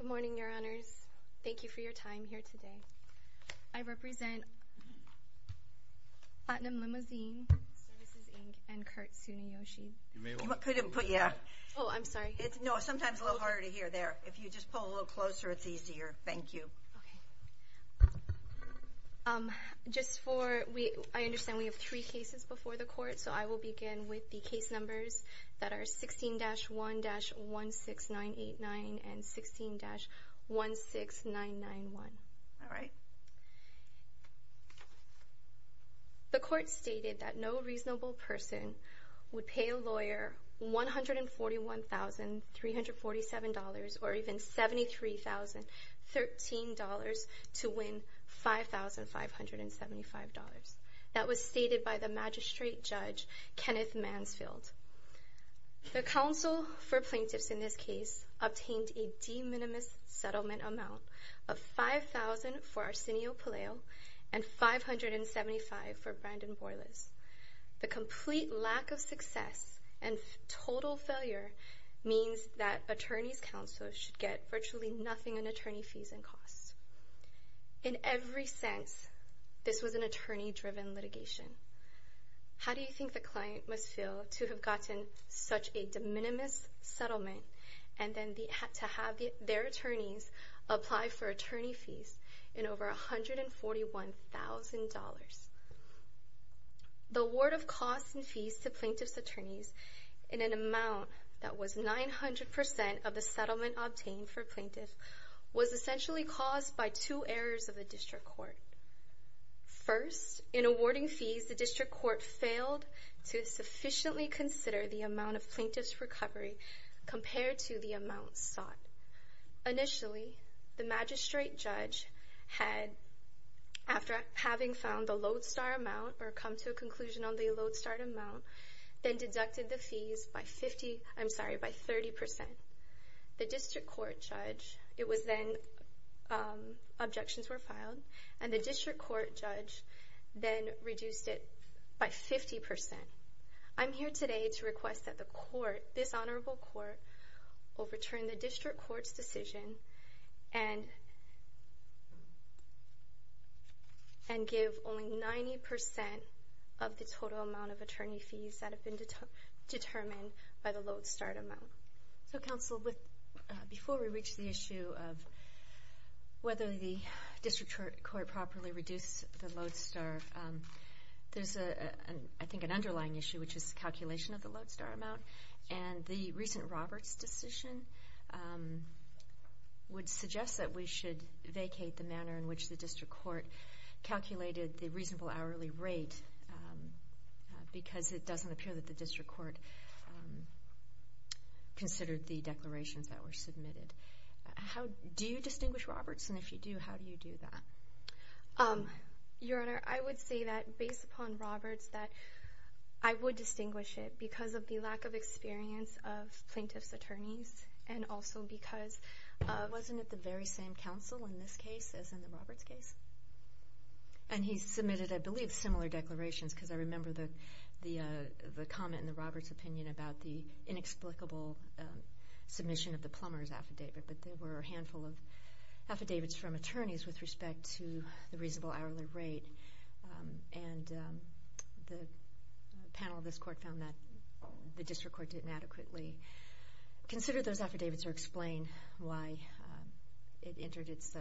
Good morning, your honors. Thank you for your time here today. I represent Platinum Limousine Services, Inc. and Kurt Tsunayoshi. You may want to... Yeah. Oh, I'm sorry. No, sometimes it's a little harder to hear there. If you just pull a little closer, it's easier. Thank you. Okay. Just for... I understand we have three cases before the court, so I will begin with the case numbers that are 16-1-16989 and 16-16991. All right. The court stated that no reasonable person would pay a lawyer $141,347 or even $73,013 to win $5,575. That was stated by the magistrate judge, Kenneth Mansfield. The counsel for plaintiffs in this case obtained a de minimis settlement amount of $5,000 for Arsenio Pelayo and $575 for Brandon Borlas. The complete lack of success and total failure means that attorney's counsel should get virtually nothing in attorney fees and costs. In every sense, this was an attorney-driven litigation. How do you think the client must feel to have gotten such a de minimis settlement and then to have their attorneys apply for attorney fees in over $141,000? The award of costs and fees to plaintiff's attorneys in an amount that was 900% of the settlement obtained for plaintiff was essentially caused by two errors of the district court. First, in awarding fees, the district court failed to sufficiently consider the amount of plaintiff's recovery compared to the amount sought. Initially, the magistrate judge had, after having found the lodestar amount or come to a conclusion on the lodestar amount, then deducted the fees by 30%. The district court judge, it was then, objections were filed, and the district court judge then reduced it by 50%. I'm here today to request that the court, this honorable court, overturn the district court's decision and give only 90% of the total amount of attorney fees that have been determined by the lodestar amount. So, counsel, before we reach the issue of whether the district court properly reduced the lodestar, there's, I think, an underlying issue, which is calculation of the lodestar amount. And the recent Roberts decision would suggest that we should vacate the manner in which the district court calculated the reasonable hourly rate because it doesn't appear that the district court considered the declarations that were submitted. Do you distinguish Roberts? And if you do, how do you do that? Your Honor, I would say that, based upon Roberts, that I would distinguish it because of the lack of experience of plaintiff's attorneys and also because it wasn't at the very same counsel in this case as in the Roberts case. And he submitted, I believe, similar declarations because I remember the comment in the Roberts opinion about the inexplicable submission of the plumbers affidavit. But there were a handful of affidavits from attorneys with respect to the reasonable hourly rate. And the panel of this court found that the district court didn't adequately consider those affidavits or explain why it entered its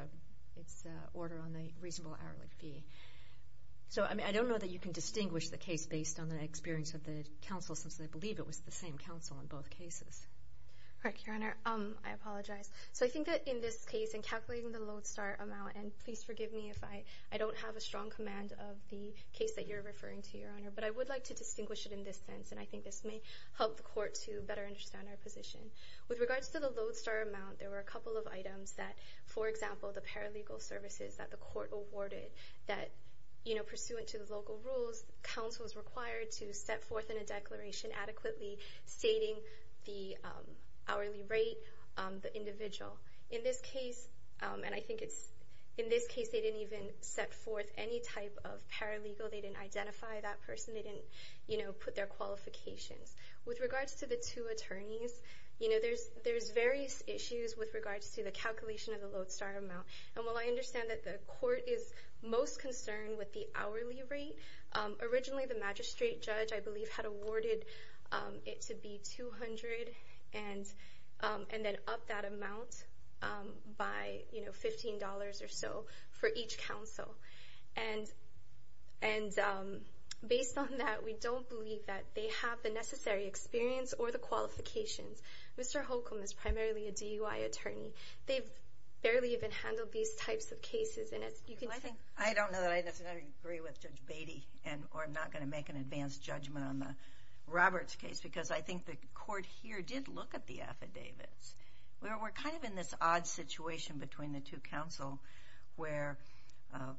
order on the reasonable hourly fee. So, I mean, I don't know that you can distinguish the case based on the experience of the counsel since I believe it was the same counsel in both cases. All right, Your Honor, I apologize. So I think that in this case, in calculating the lodestar amount, and please forgive me if I don't have a strong command of the case that you're referring to, Your Honor, but I would like to distinguish it in this sense. And I think this may help the court to better understand our position. With regards to the lodestar amount, there were a couple of items that, for example, the paralegal services that the court awarded that, you know, pursuant to the local rules, counsel is required to set forth in a declaration adequately stating the hourly rate, the individual. In this case, and I think it's, in this case they didn't even set forth any type of paralegal, they didn't identify that person, they didn't, you know, put their qualifications. With regards to the two attorneys, you know, there's various issues with regards to the calculation of the lodestar amount. And while I understand that the court is most concerned with the hourly rate, originally the magistrate judge, I believe, had awarded it to be $200 and then up that amount by, you know, $15 or so for each counsel. And based on that, we don't believe that they have the necessary experience or the qualifications. Mr. Holcomb is primarily a DUI attorney. They've barely even handled these types of cases. And as you can see... I don't know that I necessarily agree with Judge Beatty, or I'm not going to make an advanced judgment on the Roberts case, because I think the court here did look at the affidavits. We're kind of in this odd situation between the two counsel where,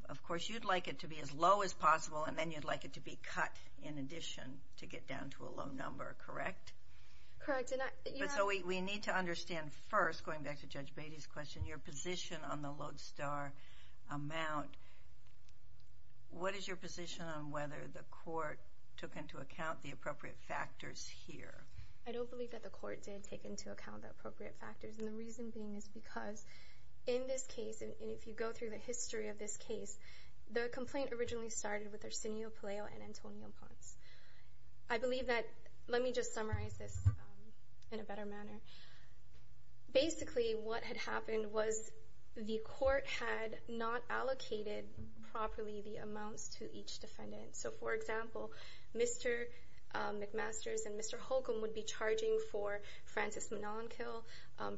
of course, you'd like it to be as low as possible, and then you'd like it to be cut in addition to get down to a low number, correct? Correct. So we need to understand first, going back to Judge Beatty's question, your position on the lodestar amount. What is your position on whether the court took into account the appropriate factors here? I don't believe that the court did take into account the appropriate factors. And the reason being is because in this case, and if you go through the history of this case, the complaint originally started with Arsenio Paleo and Antonio Ponce. I believe that... Let me just summarize this in a better manner. Basically, what had happened was the court had not allocated properly the amounts to each defendant. So, for example, Mr. McMasters and Mr. Holcomb would be charging for Francis Monellenkill.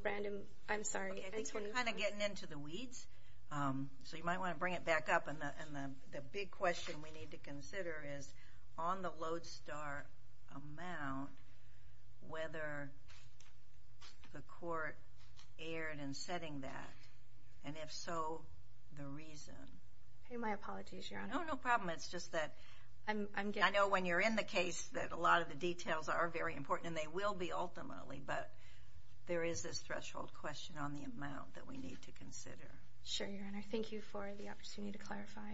Brandon, I'm sorry. I think we're kind of getting into the weeds, so you might want to bring it back up. And the big question we need to consider is on the lodestar amount, whether the court erred in setting that, and if so, the reason. My apologies, Your Honor. No, no problem. It's just that I know when you're in the case that a lot of the details are very important, and they will be ultimately, but there is this threshold question on the amount that we need to consider. Sure, Your Honor. Thank you for the opportunity to clarify.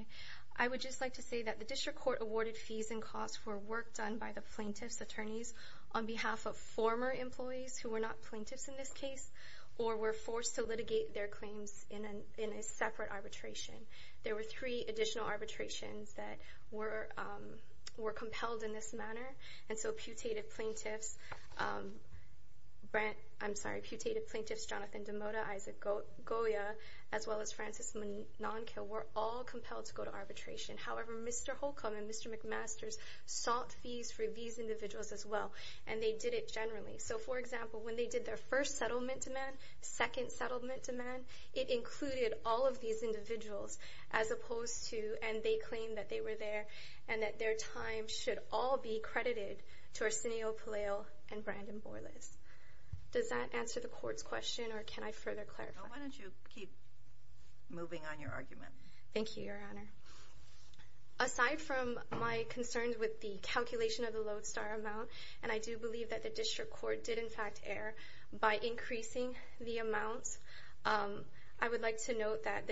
I would just like to say that the district court awarded fees and costs for work done by the plaintiff's attorneys on behalf of former employees who were not plaintiffs in this case or were forced to litigate their claims in a separate arbitration. There were three additional arbitrations that were compelled in this manner, and so putative plaintiffs Jonathan DeMotta, Isaac Goya, as well as Francis Monellenkill were all compelled to go to arbitration. However, Mr. Holcomb and Mr. McMasters sought fees for these individuals as well, and they did it generally. So, for example, when they did their first settlement demand, second settlement demand, it included all of these individuals as opposed to, and they claimed that they were there and that their time should all be credited to Arsenio Palil and Brandon Borlas. Does that answer the court's question, or can I further clarify? No, why don't you keep moving on your argument. Thank you, Your Honor. Aside from my concerns with the calculation of the lodestar amount, and I do believe that the district court did in fact err by increasing the amounts, I would like to note that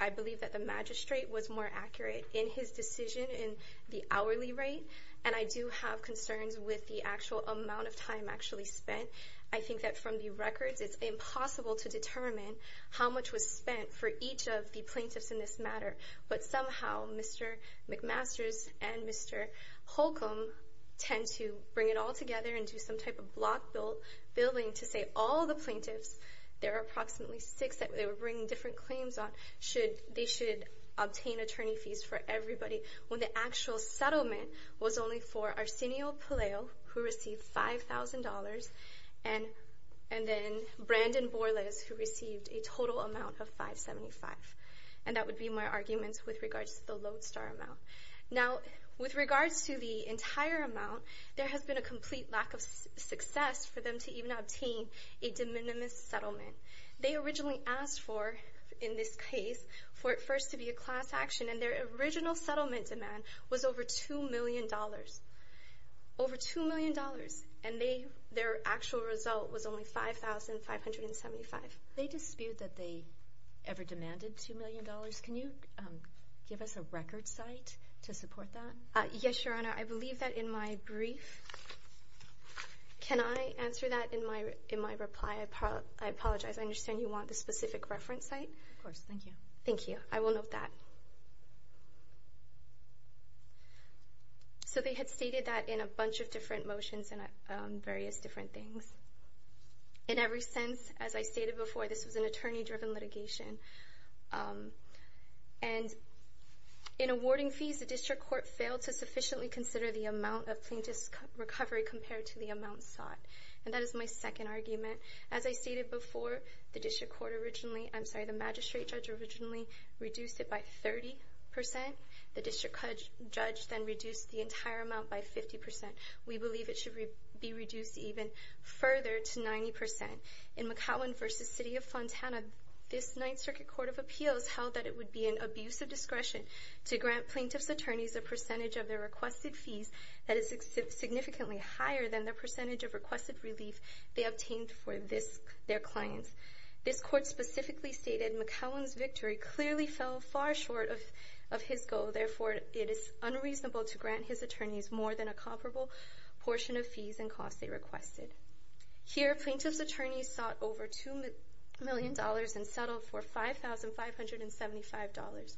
I believe that the magistrate was more accurate in his decision in the hourly rate, and I do have concerns with the actual amount of time actually spent. I think that from the records, it's impossible to determine how much was spent for each of the plaintiffs in this matter, but somehow Mr. McMasters and Mr. Holcomb tend to bring it all together and do some type of block billing to say all the plaintiffs, there are approximately six that they were bringing different claims on, they should obtain attorney fees for everybody, when the actual settlement was only for Arsenio Palil, who received $5,000, and then Brandon Borlas, who received a total amount of $575, and that would be my argument with regards to the lodestar amount. Now, with regards to the entire amount, there has been a complete lack of success for them to even obtain a de minimis settlement. They originally asked for, in this case, for it first to be a class action, and their original settlement demand was over $2 million, over $2 million, and their actual result was only $5,575. They dispute that they ever demanded $2 million. Can you give us a record site to support that? Yes, Your Honor. I believe that in my brief. Can I answer that in my reply? I apologize. I understand you want the specific reference site? Of course. Thank you. Thank you. I will note that. So they had stated that in a bunch of different motions and various different things. In every sense, as I stated before, this was an attorney-driven litigation, and in awarding fees, the district court failed to sufficiently consider the amount of plaintiff's recovery compared to the amount sought, and that is my second argument. As I stated before, the magistrate judge originally reduced it by 30%. The district judge then reduced the entire amount by 50%. We believe it should be reduced even further to 90%. In McCowan v. City of Fontana, this Ninth Circuit Court of Appeals held that it would be an abuse of discretion to grant plaintiff's attorneys a percentage of their requested fees that is significantly higher than the percentage of requested relief they obtained for their clients. This court specifically stated McCowan's victory clearly fell far short of his goal. Therefore, it is unreasonable to grant his attorneys more than a comparable portion of fees and costs they requested. Here, plaintiff's attorneys sought over $2 million and settled for $5,575.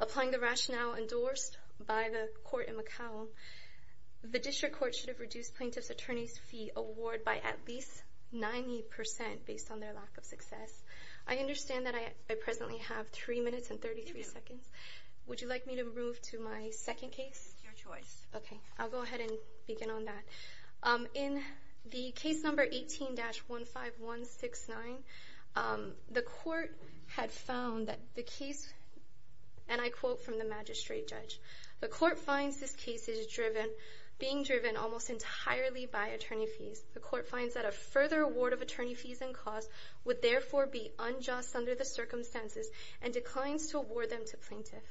Applying the rationale endorsed by the court in McCowan, the district court should have reduced plaintiff's attorney's fee award by at least 90% based on their lack of success. I understand that I presently have 3 minutes and 33 seconds. Would you like me to move to my second case? Your choice. Okay, I'll go ahead and begin on that. In the case number 18-15169, the court had found that the case, and I quote from the magistrate judge, the court finds this case is being driven almost entirely by attorney fees. The court finds that a further award of attorney fees and costs would therefore be unjust under the circumstances and declines to award them to plaintiff.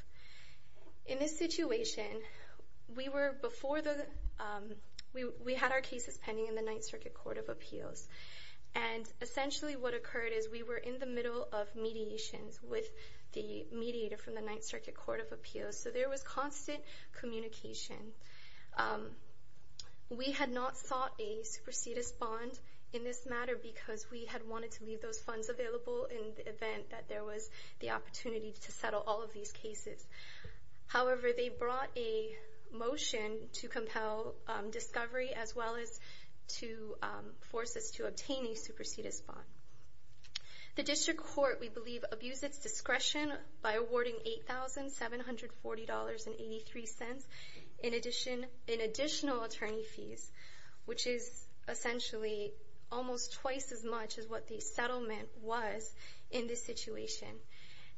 In this situation, we had our cases pending in the Ninth Circuit Court of Appeals, and essentially what occurred is we were in the middle of mediations with the mediator from the Ninth Circuit Court of Appeals, so there was constant communication. We had not sought a supersedis bond in this matter because we had wanted to leave those funds available in the event that there was the opportunity to settle all of these cases. However, they brought a motion to compel discovery as well as to force us to obtain a supersedis bond. The district court, we believe, abused its discretion by awarding $8,740.83 in additional attorney fees, which is essentially almost twice as much as what the settlement was in this situation.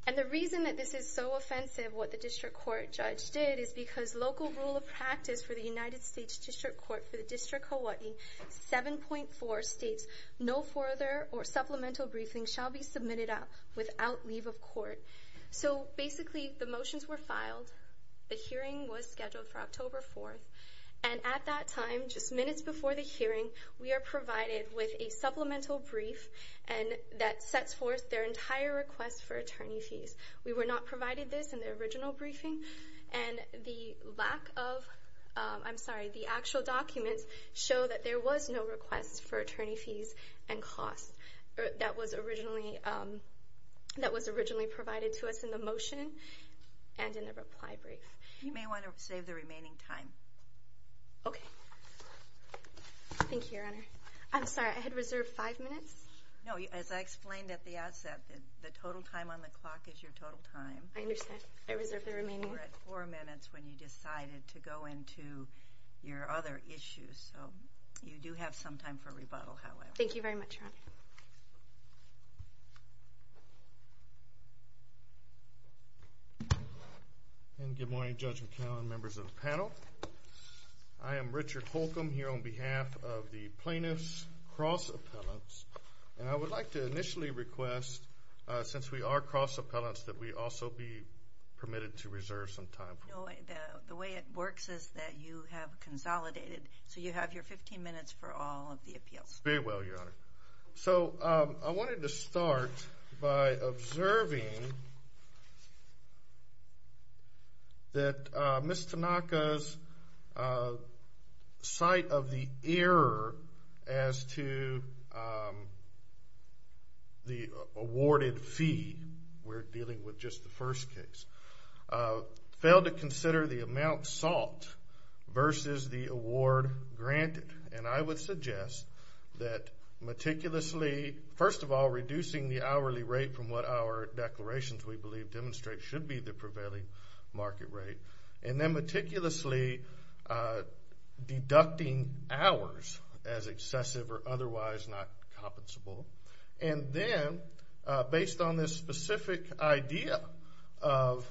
And the reason that this is so offensive, what the district court judge did, is because local rule of practice for the United States District Court for the District of Hawaii, 7.4 states, no further or supplemental briefing shall be submitted without leave of court. So basically, the motions were filed, the hearing was scheduled for October 4th, and at that time, just minutes before the hearing, we are provided with a supplemental brief that sets forth their entire request for attorney fees. We were not provided this in the original briefing, and the lack of, I'm sorry, the actual documents show that there was no request for attorney fees and costs that was originally provided to us in the motion and in the reply brief. You may want to save the remaining time. Okay. Thank you, Your Honor. I'm sorry, I had reserved five minutes? No, as I explained at the outset, the total time on the clock is your total time. I understand. I reserved the remaining time. You were at four minutes when you decided to go into your other issues, so you do have some time for rebuttal, however. Thank you very much, Your Honor. Thank you. Good morning, Judge McConnell and members of the panel. I am Richard Holcomb here on behalf of the Plaintiffs Cross Appellants, and I would like to initially request, since we are cross appellants, that we also be permitted to reserve some time. The way it works is that you have consolidated, so you have your 15 minutes for all of the appeals. Very well, Your Honor. So I wanted to start by observing that Ms. Tanaka's sight of the error as to the awarded fee, we're dealing with just the first case, failed to consider the amount sought versus the award granted. And I would suggest that meticulously, first of all, reducing the hourly rate from what our declarations we believe demonstrate should be the prevailing market rate, and then meticulously deducting hours as excessive or otherwise not compensable. And then, based on this specific idea of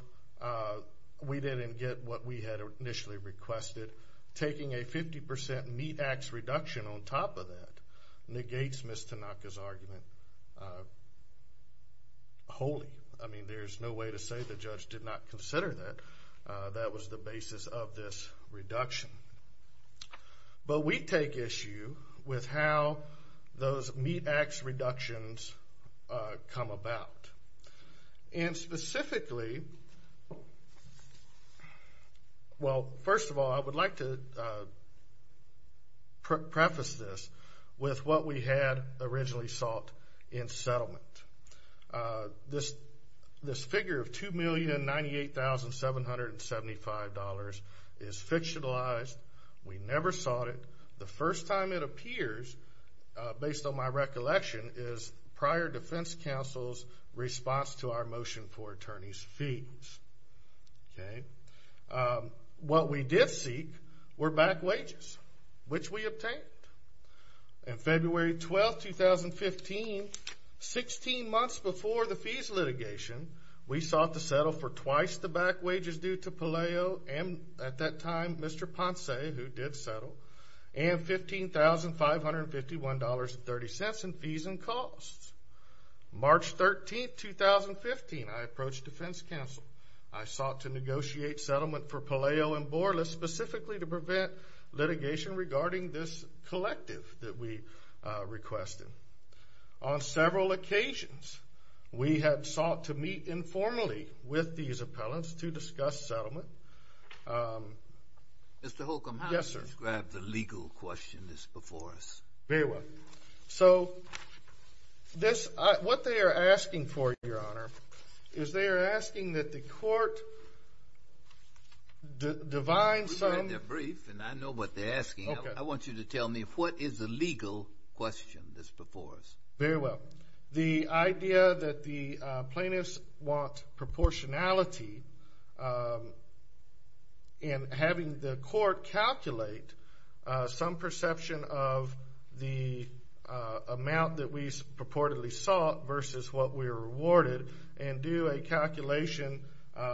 we didn't get what we had initially requested, taking a 50% meat-axe reduction on top of that negates Ms. Tanaka's argument wholly. I mean, there's no way to say the judge did not consider that. That was the basis of this reduction. But we take issue with how those meat-axe reductions come about. And specifically, well, first of all, I would like to preface this with what we had originally sought in settlement. This figure of $2,098,775 is fictionalized. We never sought it. The first time it appears, based on my recollection, is prior defense counsel's response to our motion for attorneys' fees. What we did seek were back wages, which we obtained. On February 12, 2015, 16 months before the fees litigation, we sought to settle for twice the back wages due to Palaio and, at that time, Mr. Ponce, who did settle, and $15,551.30 in fees and costs. March 13, 2015, I approached defense counsel. I sought to negotiate settlement for Palaio and Borla specifically to prevent litigation regarding this collective that we requested. On several occasions, we had sought to meet informally with these appellants to discuss settlement. Mr. Holcomb, how do you describe the legal question that's before us? Very well. So what they are asking for, Your Honor, is they are asking that the court divine some... We read their brief, and I know what they're asking. I want you to tell me what is the legal question that's before us. Very well. The idea that the plaintiffs want proportionality in having the court calculate some perception of the amount that we purportedly sought versus what we were awarded and do a calculation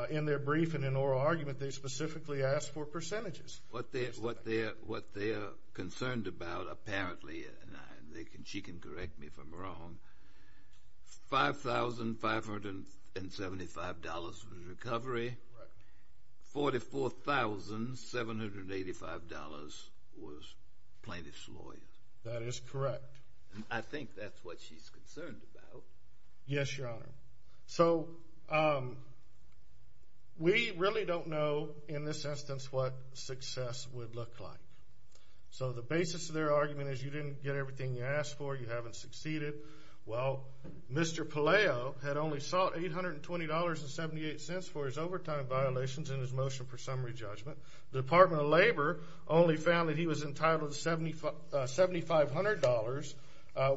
in their brief and in oral argument. They specifically ask for percentages. What they are concerned about apparently, and she can correct me if I'm wrong, $5,575 was recovery. $44,785 was plaintiff's lawyer. That is correct. I think that's what she's concerned about. Yes, Your Honor. So we really don't know in this instance what success would look like. So the basis of their argument is you didn't get everything you asked for, you haven't succeeded. Well, Mr. Palaio had only sought $820.78 for his overtime violations in his motion for summary judgment. The Department of Labor only found that he was entitled to $7,500,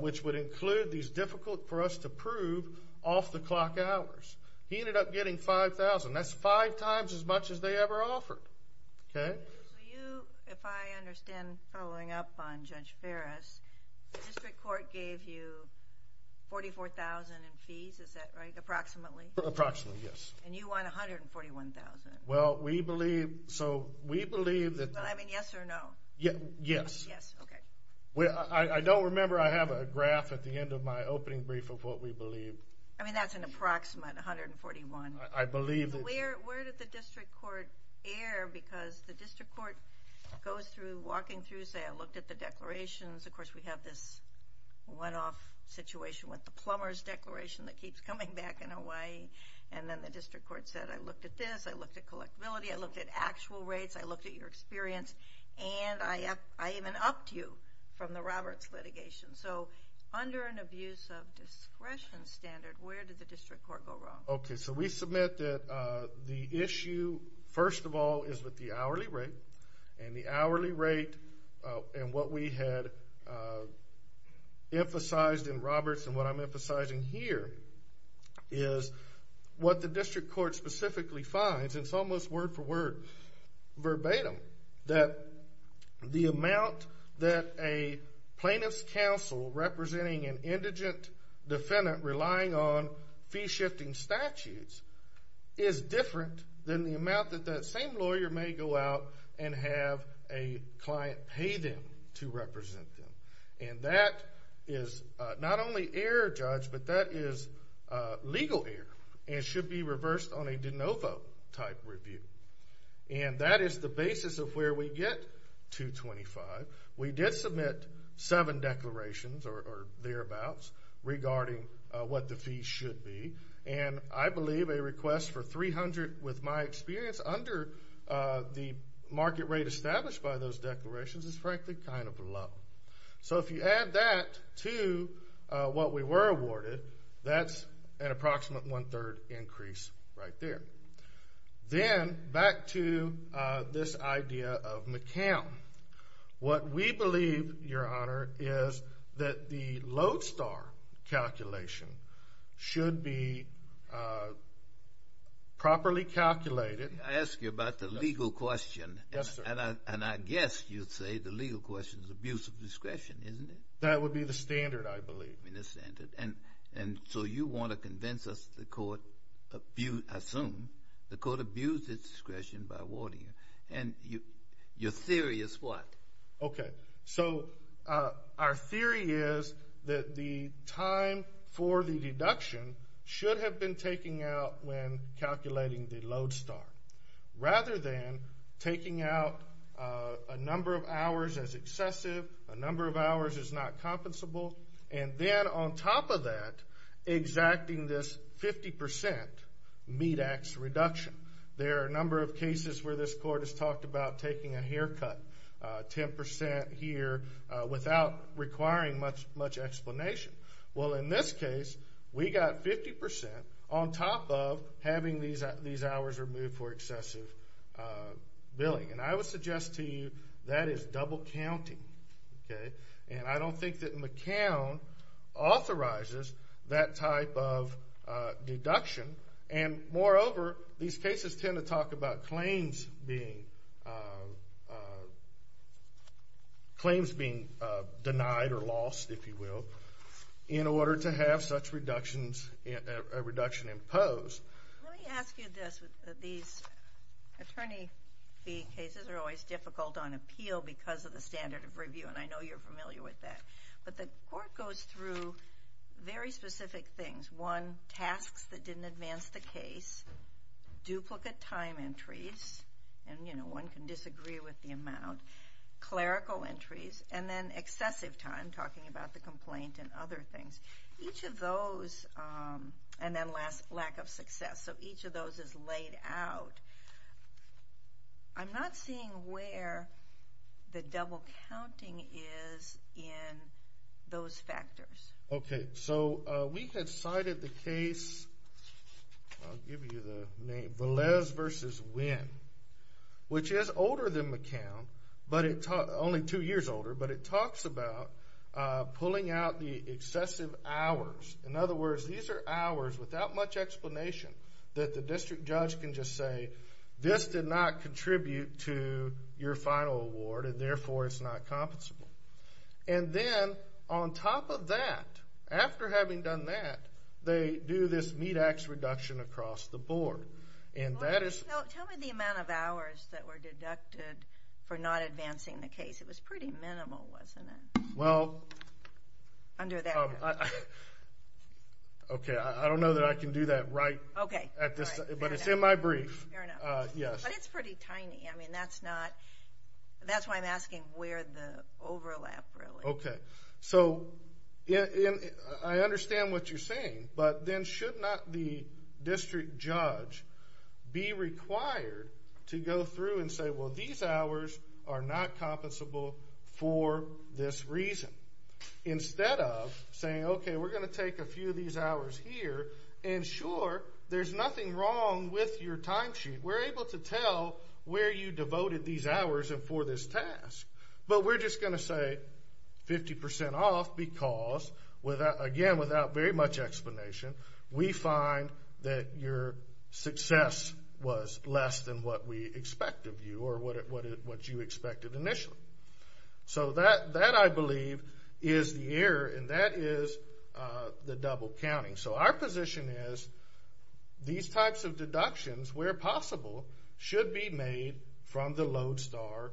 which would include these difficult for us to prove off-the-clock hours. He ended up getting $5,000. That's five times as much as they ever offered. Okay? So you, if I understand following up on Judge Ferris, the district court gave you $44,000 in fees. Is that right? Approximately? Approximately, yes. And you won $141,000. Well, we believe that... I mean, yes or no? Yes. Yes, okay. I don't remember. I have a graph at the end of my opening brief of what we believe. I mean, that's an approximate $141,000. I believe that... Where did the district court err? Because the district court goes through, walking through, saying, I looked at the declarations. Of course, we have this one-off situation with the plumber's declaration that keeps coming back in Hawaii. And then the district court said, I looked at this. I looked at collectability. I looked at actual rates. I looked at your experience. And I even upped you from the Roberts litigation. So under an abuse of discretion standard, where did the district court go wrong? Okay, so we submit that the issue, first of all, is with the hourly rate. And the hourly rate and what we had emphasized in Roberts and what I'm emphasizing here is what the district court specifically finds. It's almost word for word, verbatim, that the amount that a plaintiff's counsel representing an indigent defendant relying on fee-shifting statutes is different than the amount that that same lawyer may go out and have a client pay them to represent them. And that is not only error, Judge, but that is legal error. And it should be reversed on a de novo type review. And that is the basis of where we get 225. We did submit seven declarations or thereabouts regarding what the fees should be. And I believe a request for 300 with my experience under the market rate established by those declarations is frankly kind of low. So if you add that to what we were awarded, that's an approximate one-third increase right there. Then back to this idea of McCown. What we believe, Your Honor, is that the Lodestar calculation should be properly calculated. I ask you about the legal question. Yes, sir. And I guess you'd say the legal question is abuse of discretion, isn't it? That would be the standard, I believe. The standard. And so you want to convince us the court, I assume, the court abused its discretion by awarding it. And your theory is what? Okay. So our theory is that the time for the deduction should have been taken out when calculating the Lodestar, rather than taking out a number of hours as excessive, a number of hours as not compensable, and then on top of that exacting this 50% MEDAX reduction. There are a number of cases where this court has talked about taking a haircut 10% here without requiring much explanation. Well, in this case, we got 50% on top of having these hours removed for excessive billing. And I would suggest to you that is double counting. And I don't think that McCown authorizes that type of deduction. And moreover, these cases tend to talk about claims being denied or lost, if you will, in order to have such a reduction imposed. Let me ask you this. These attorney fee cases are always difficult on appeal because of the standard of review, and I know you're familiar with that. But the court goes through very specific things. One, tasks that didn't advance the case, duplicate time entries, and, you know, one can disagree with the amount, clerical entries, and then excessive time, talking about the complaint and other things. Each of those, and then last, lack of success. So each of those is laid out. I'm not seeing where the double counting is in those factors. Okay, so we had cited the case, I'll give you the name, Velez v. Winn, which is older than McCown, only two years older, but it talks about pulling out the excessive hours. In other words, these are hours without much explanation that the district judge can just say, this did not contribute to your final award, and therefore it's not compensable. And then on top of that, after having done that, they do this meat ax reduction across the board. Tell me the amount of hours that were deducted for not advancing the case. It was pretty minimal, wasn't it? Well, okay, I don't know that I can do that right, but it's in my brief. But it's pretty tiny, that's why I'm asking where the overlap really is. Okay, so I understand what you're saying, but then should not the district judge be required to go through and say, well, these hours are not compensable for this reason? Instead of saying, okay, we're going to take a few of these hours here, and sure, there's nothing wrong with your timesheet. We're able to tell where you devoted these hours and for this task, but we're just going to say 50% off because, again, without very much explanation, we find that your success was less than what we expect of you or what you expected initially. So that, I believe, is the error, and that is the double counting. So our position is these types of deductions, where possible, should be made from the Lodestar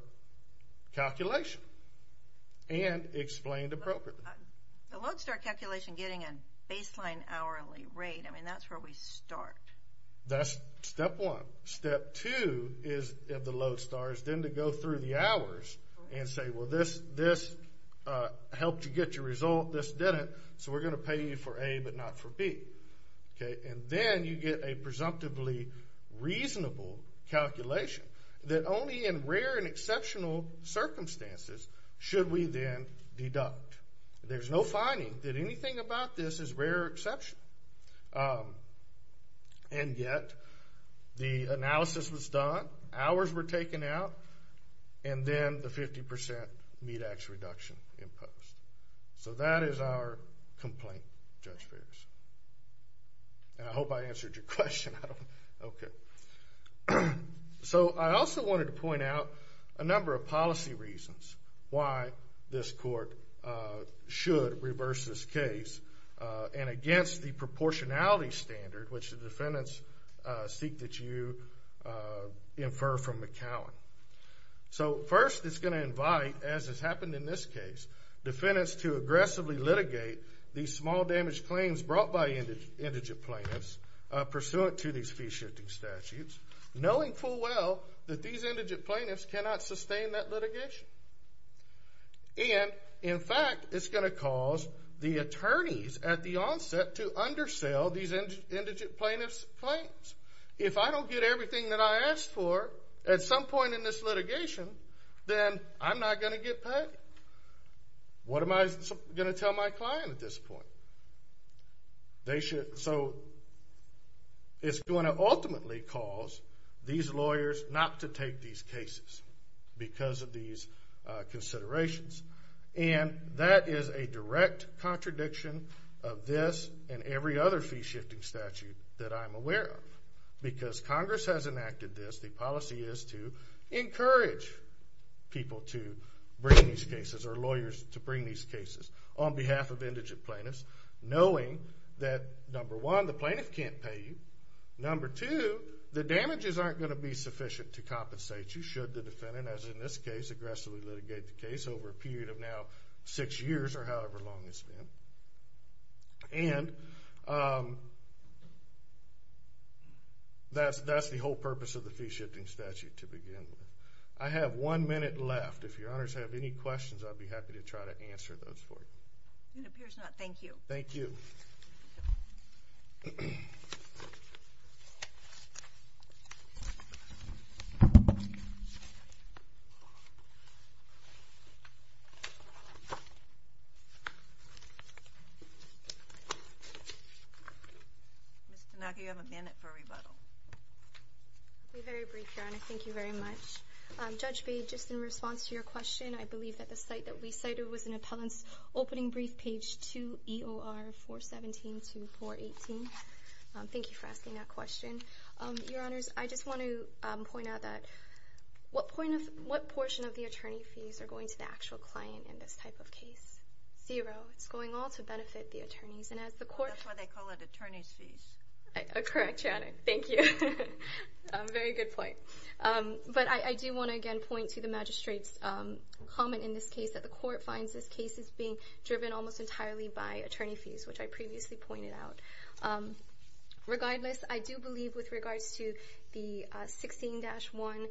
calculation and explained appropriately. The Lodestar calculation getting a baseline hourly rate, I mean, that's where we start. That's step one. Step two of the Lodestar is then to go through the hours and say, well, this helped you get your result, this didn't, so we're going to pay you for A but not for B. And then you get a presumptively reasonable calculation that only in rare and exceptional circumstances should we then deduct. There's no finding that anything about this is rare or exceptional. And yet the analysis was done, hours were taken out, and then the 50% MEDAX reduction imposed. So that is our complaint, Judge Ferris. And I hope I answered your question. Okay. So I also wanted to point out a number of policy reasons why this court should reverse this case and against the proportionality standard, which the defendants seek that you infer from McCowan. So first it's going to invite, as has happened in this case, defendants to aggressively litigate these small damage claims brought by indigent plaintiffs pursuant to these fee-shifting statutes, knowing full well that these indigent plaintiffs cannot sustain that litigation. And, in fact, it's going to cause the attorneys at the onset to undersell these indigent plaintiffs' claims. If I don't get everything that I asked for at some point in this litigation, then I'm not going to get paid. What am I going to tell my client at this point? So it's going to ultimately cause these lawyers not to take these cases because of these considerations. And that is a direct contradiction of this and every other fee-shifting statute that I'm aware of. Because Congress has enacted this, the policy is to encourage people to bring these cases or lawyers to bring these cases on behalf of indigent plaintiffs, knowing that, number one, the plaintiff can't pay you. Number two, the damages aren't going to be sufficient to compensate you, should the defendant, as in this case, aggressively litigate the case over a period of now six years or however long it's been. And that's the whole purpose of the fee-shifting statute to begin with. I have one minute left. If your honors have any questions, I'd be happy to try to answer those for you. It appears not. Thank you. Thank you. Ms. Tanaki, you have a minute for rebuttal. I'll be very brief, Your Honor. Thank you very much. Judge Bade, just in response to your question, I believe that the site that we cited was an appellant's opening brief, page 2, EOR 417 to 418. Thank you for asking that question. Your honors, I just want to point out that what portion of the attorney fees are going to the actual client in this type of case? Zero. It's going all to benefit the attorneys. That's why they call it attorney's fees. Correct, Your Honor. Thank you. Very good point. But I do want to, again, point to the magistrate's comment in this case, that the court finds this case is being driven almost entirely by attorney fees, which I previously pointed out. Regardless, I do believe with regards to the 16-1-16989,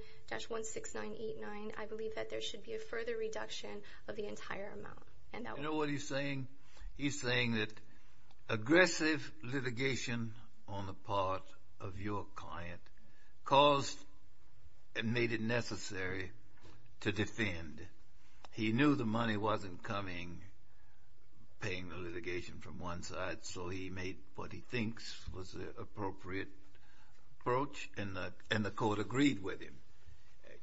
I believe that there should be a further reduction of the entire amount. You know what he's saying? He's saying that aggressive litigation on the part of your client caused and made it necessary to defend. He knew the money wasn't coming, paying the litigation from one side, so he made what he thinks was the appropriate approach, and the court agreed with him.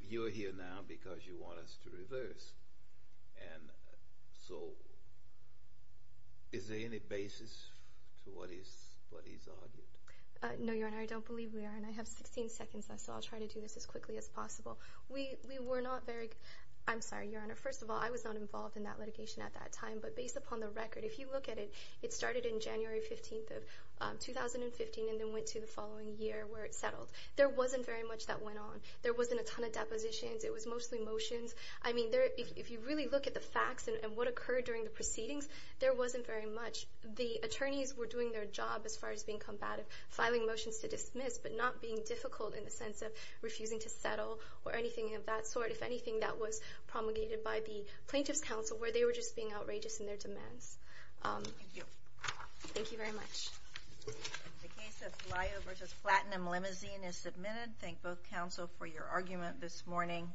You're here now because you want us to reverse, and so is there any basis to what he's argued? No, Your Honor, I don't believe we are, and I have 16 seconds, so I'll try to do this as quickly as possible. We were not very, I'm sorry, Your Honor, first of all, I was not involved in that litigation at that time, but based upon the record, if you look at it, it started in January 15th of 2015 and then went to the following year where it settled. There wasn't very much that went on. There wasn't a ton of depositions. It was mostly motions. I mean, if you really look at the facts and what occurred during the proceedings, there wasn't very much. The attorneys were doing their job as far as being combative, filing motions to dismiss, but not being difficult in the sense of refusing to settle or anything of that sort, if anything, that was promulgated by the plaintiff's counsel, where they were just being outrageous in their demands. Thank you. Thank you very much. The case of Lyo v. Platinum Limousine is submitted. Thank both counsel for your argument this morning.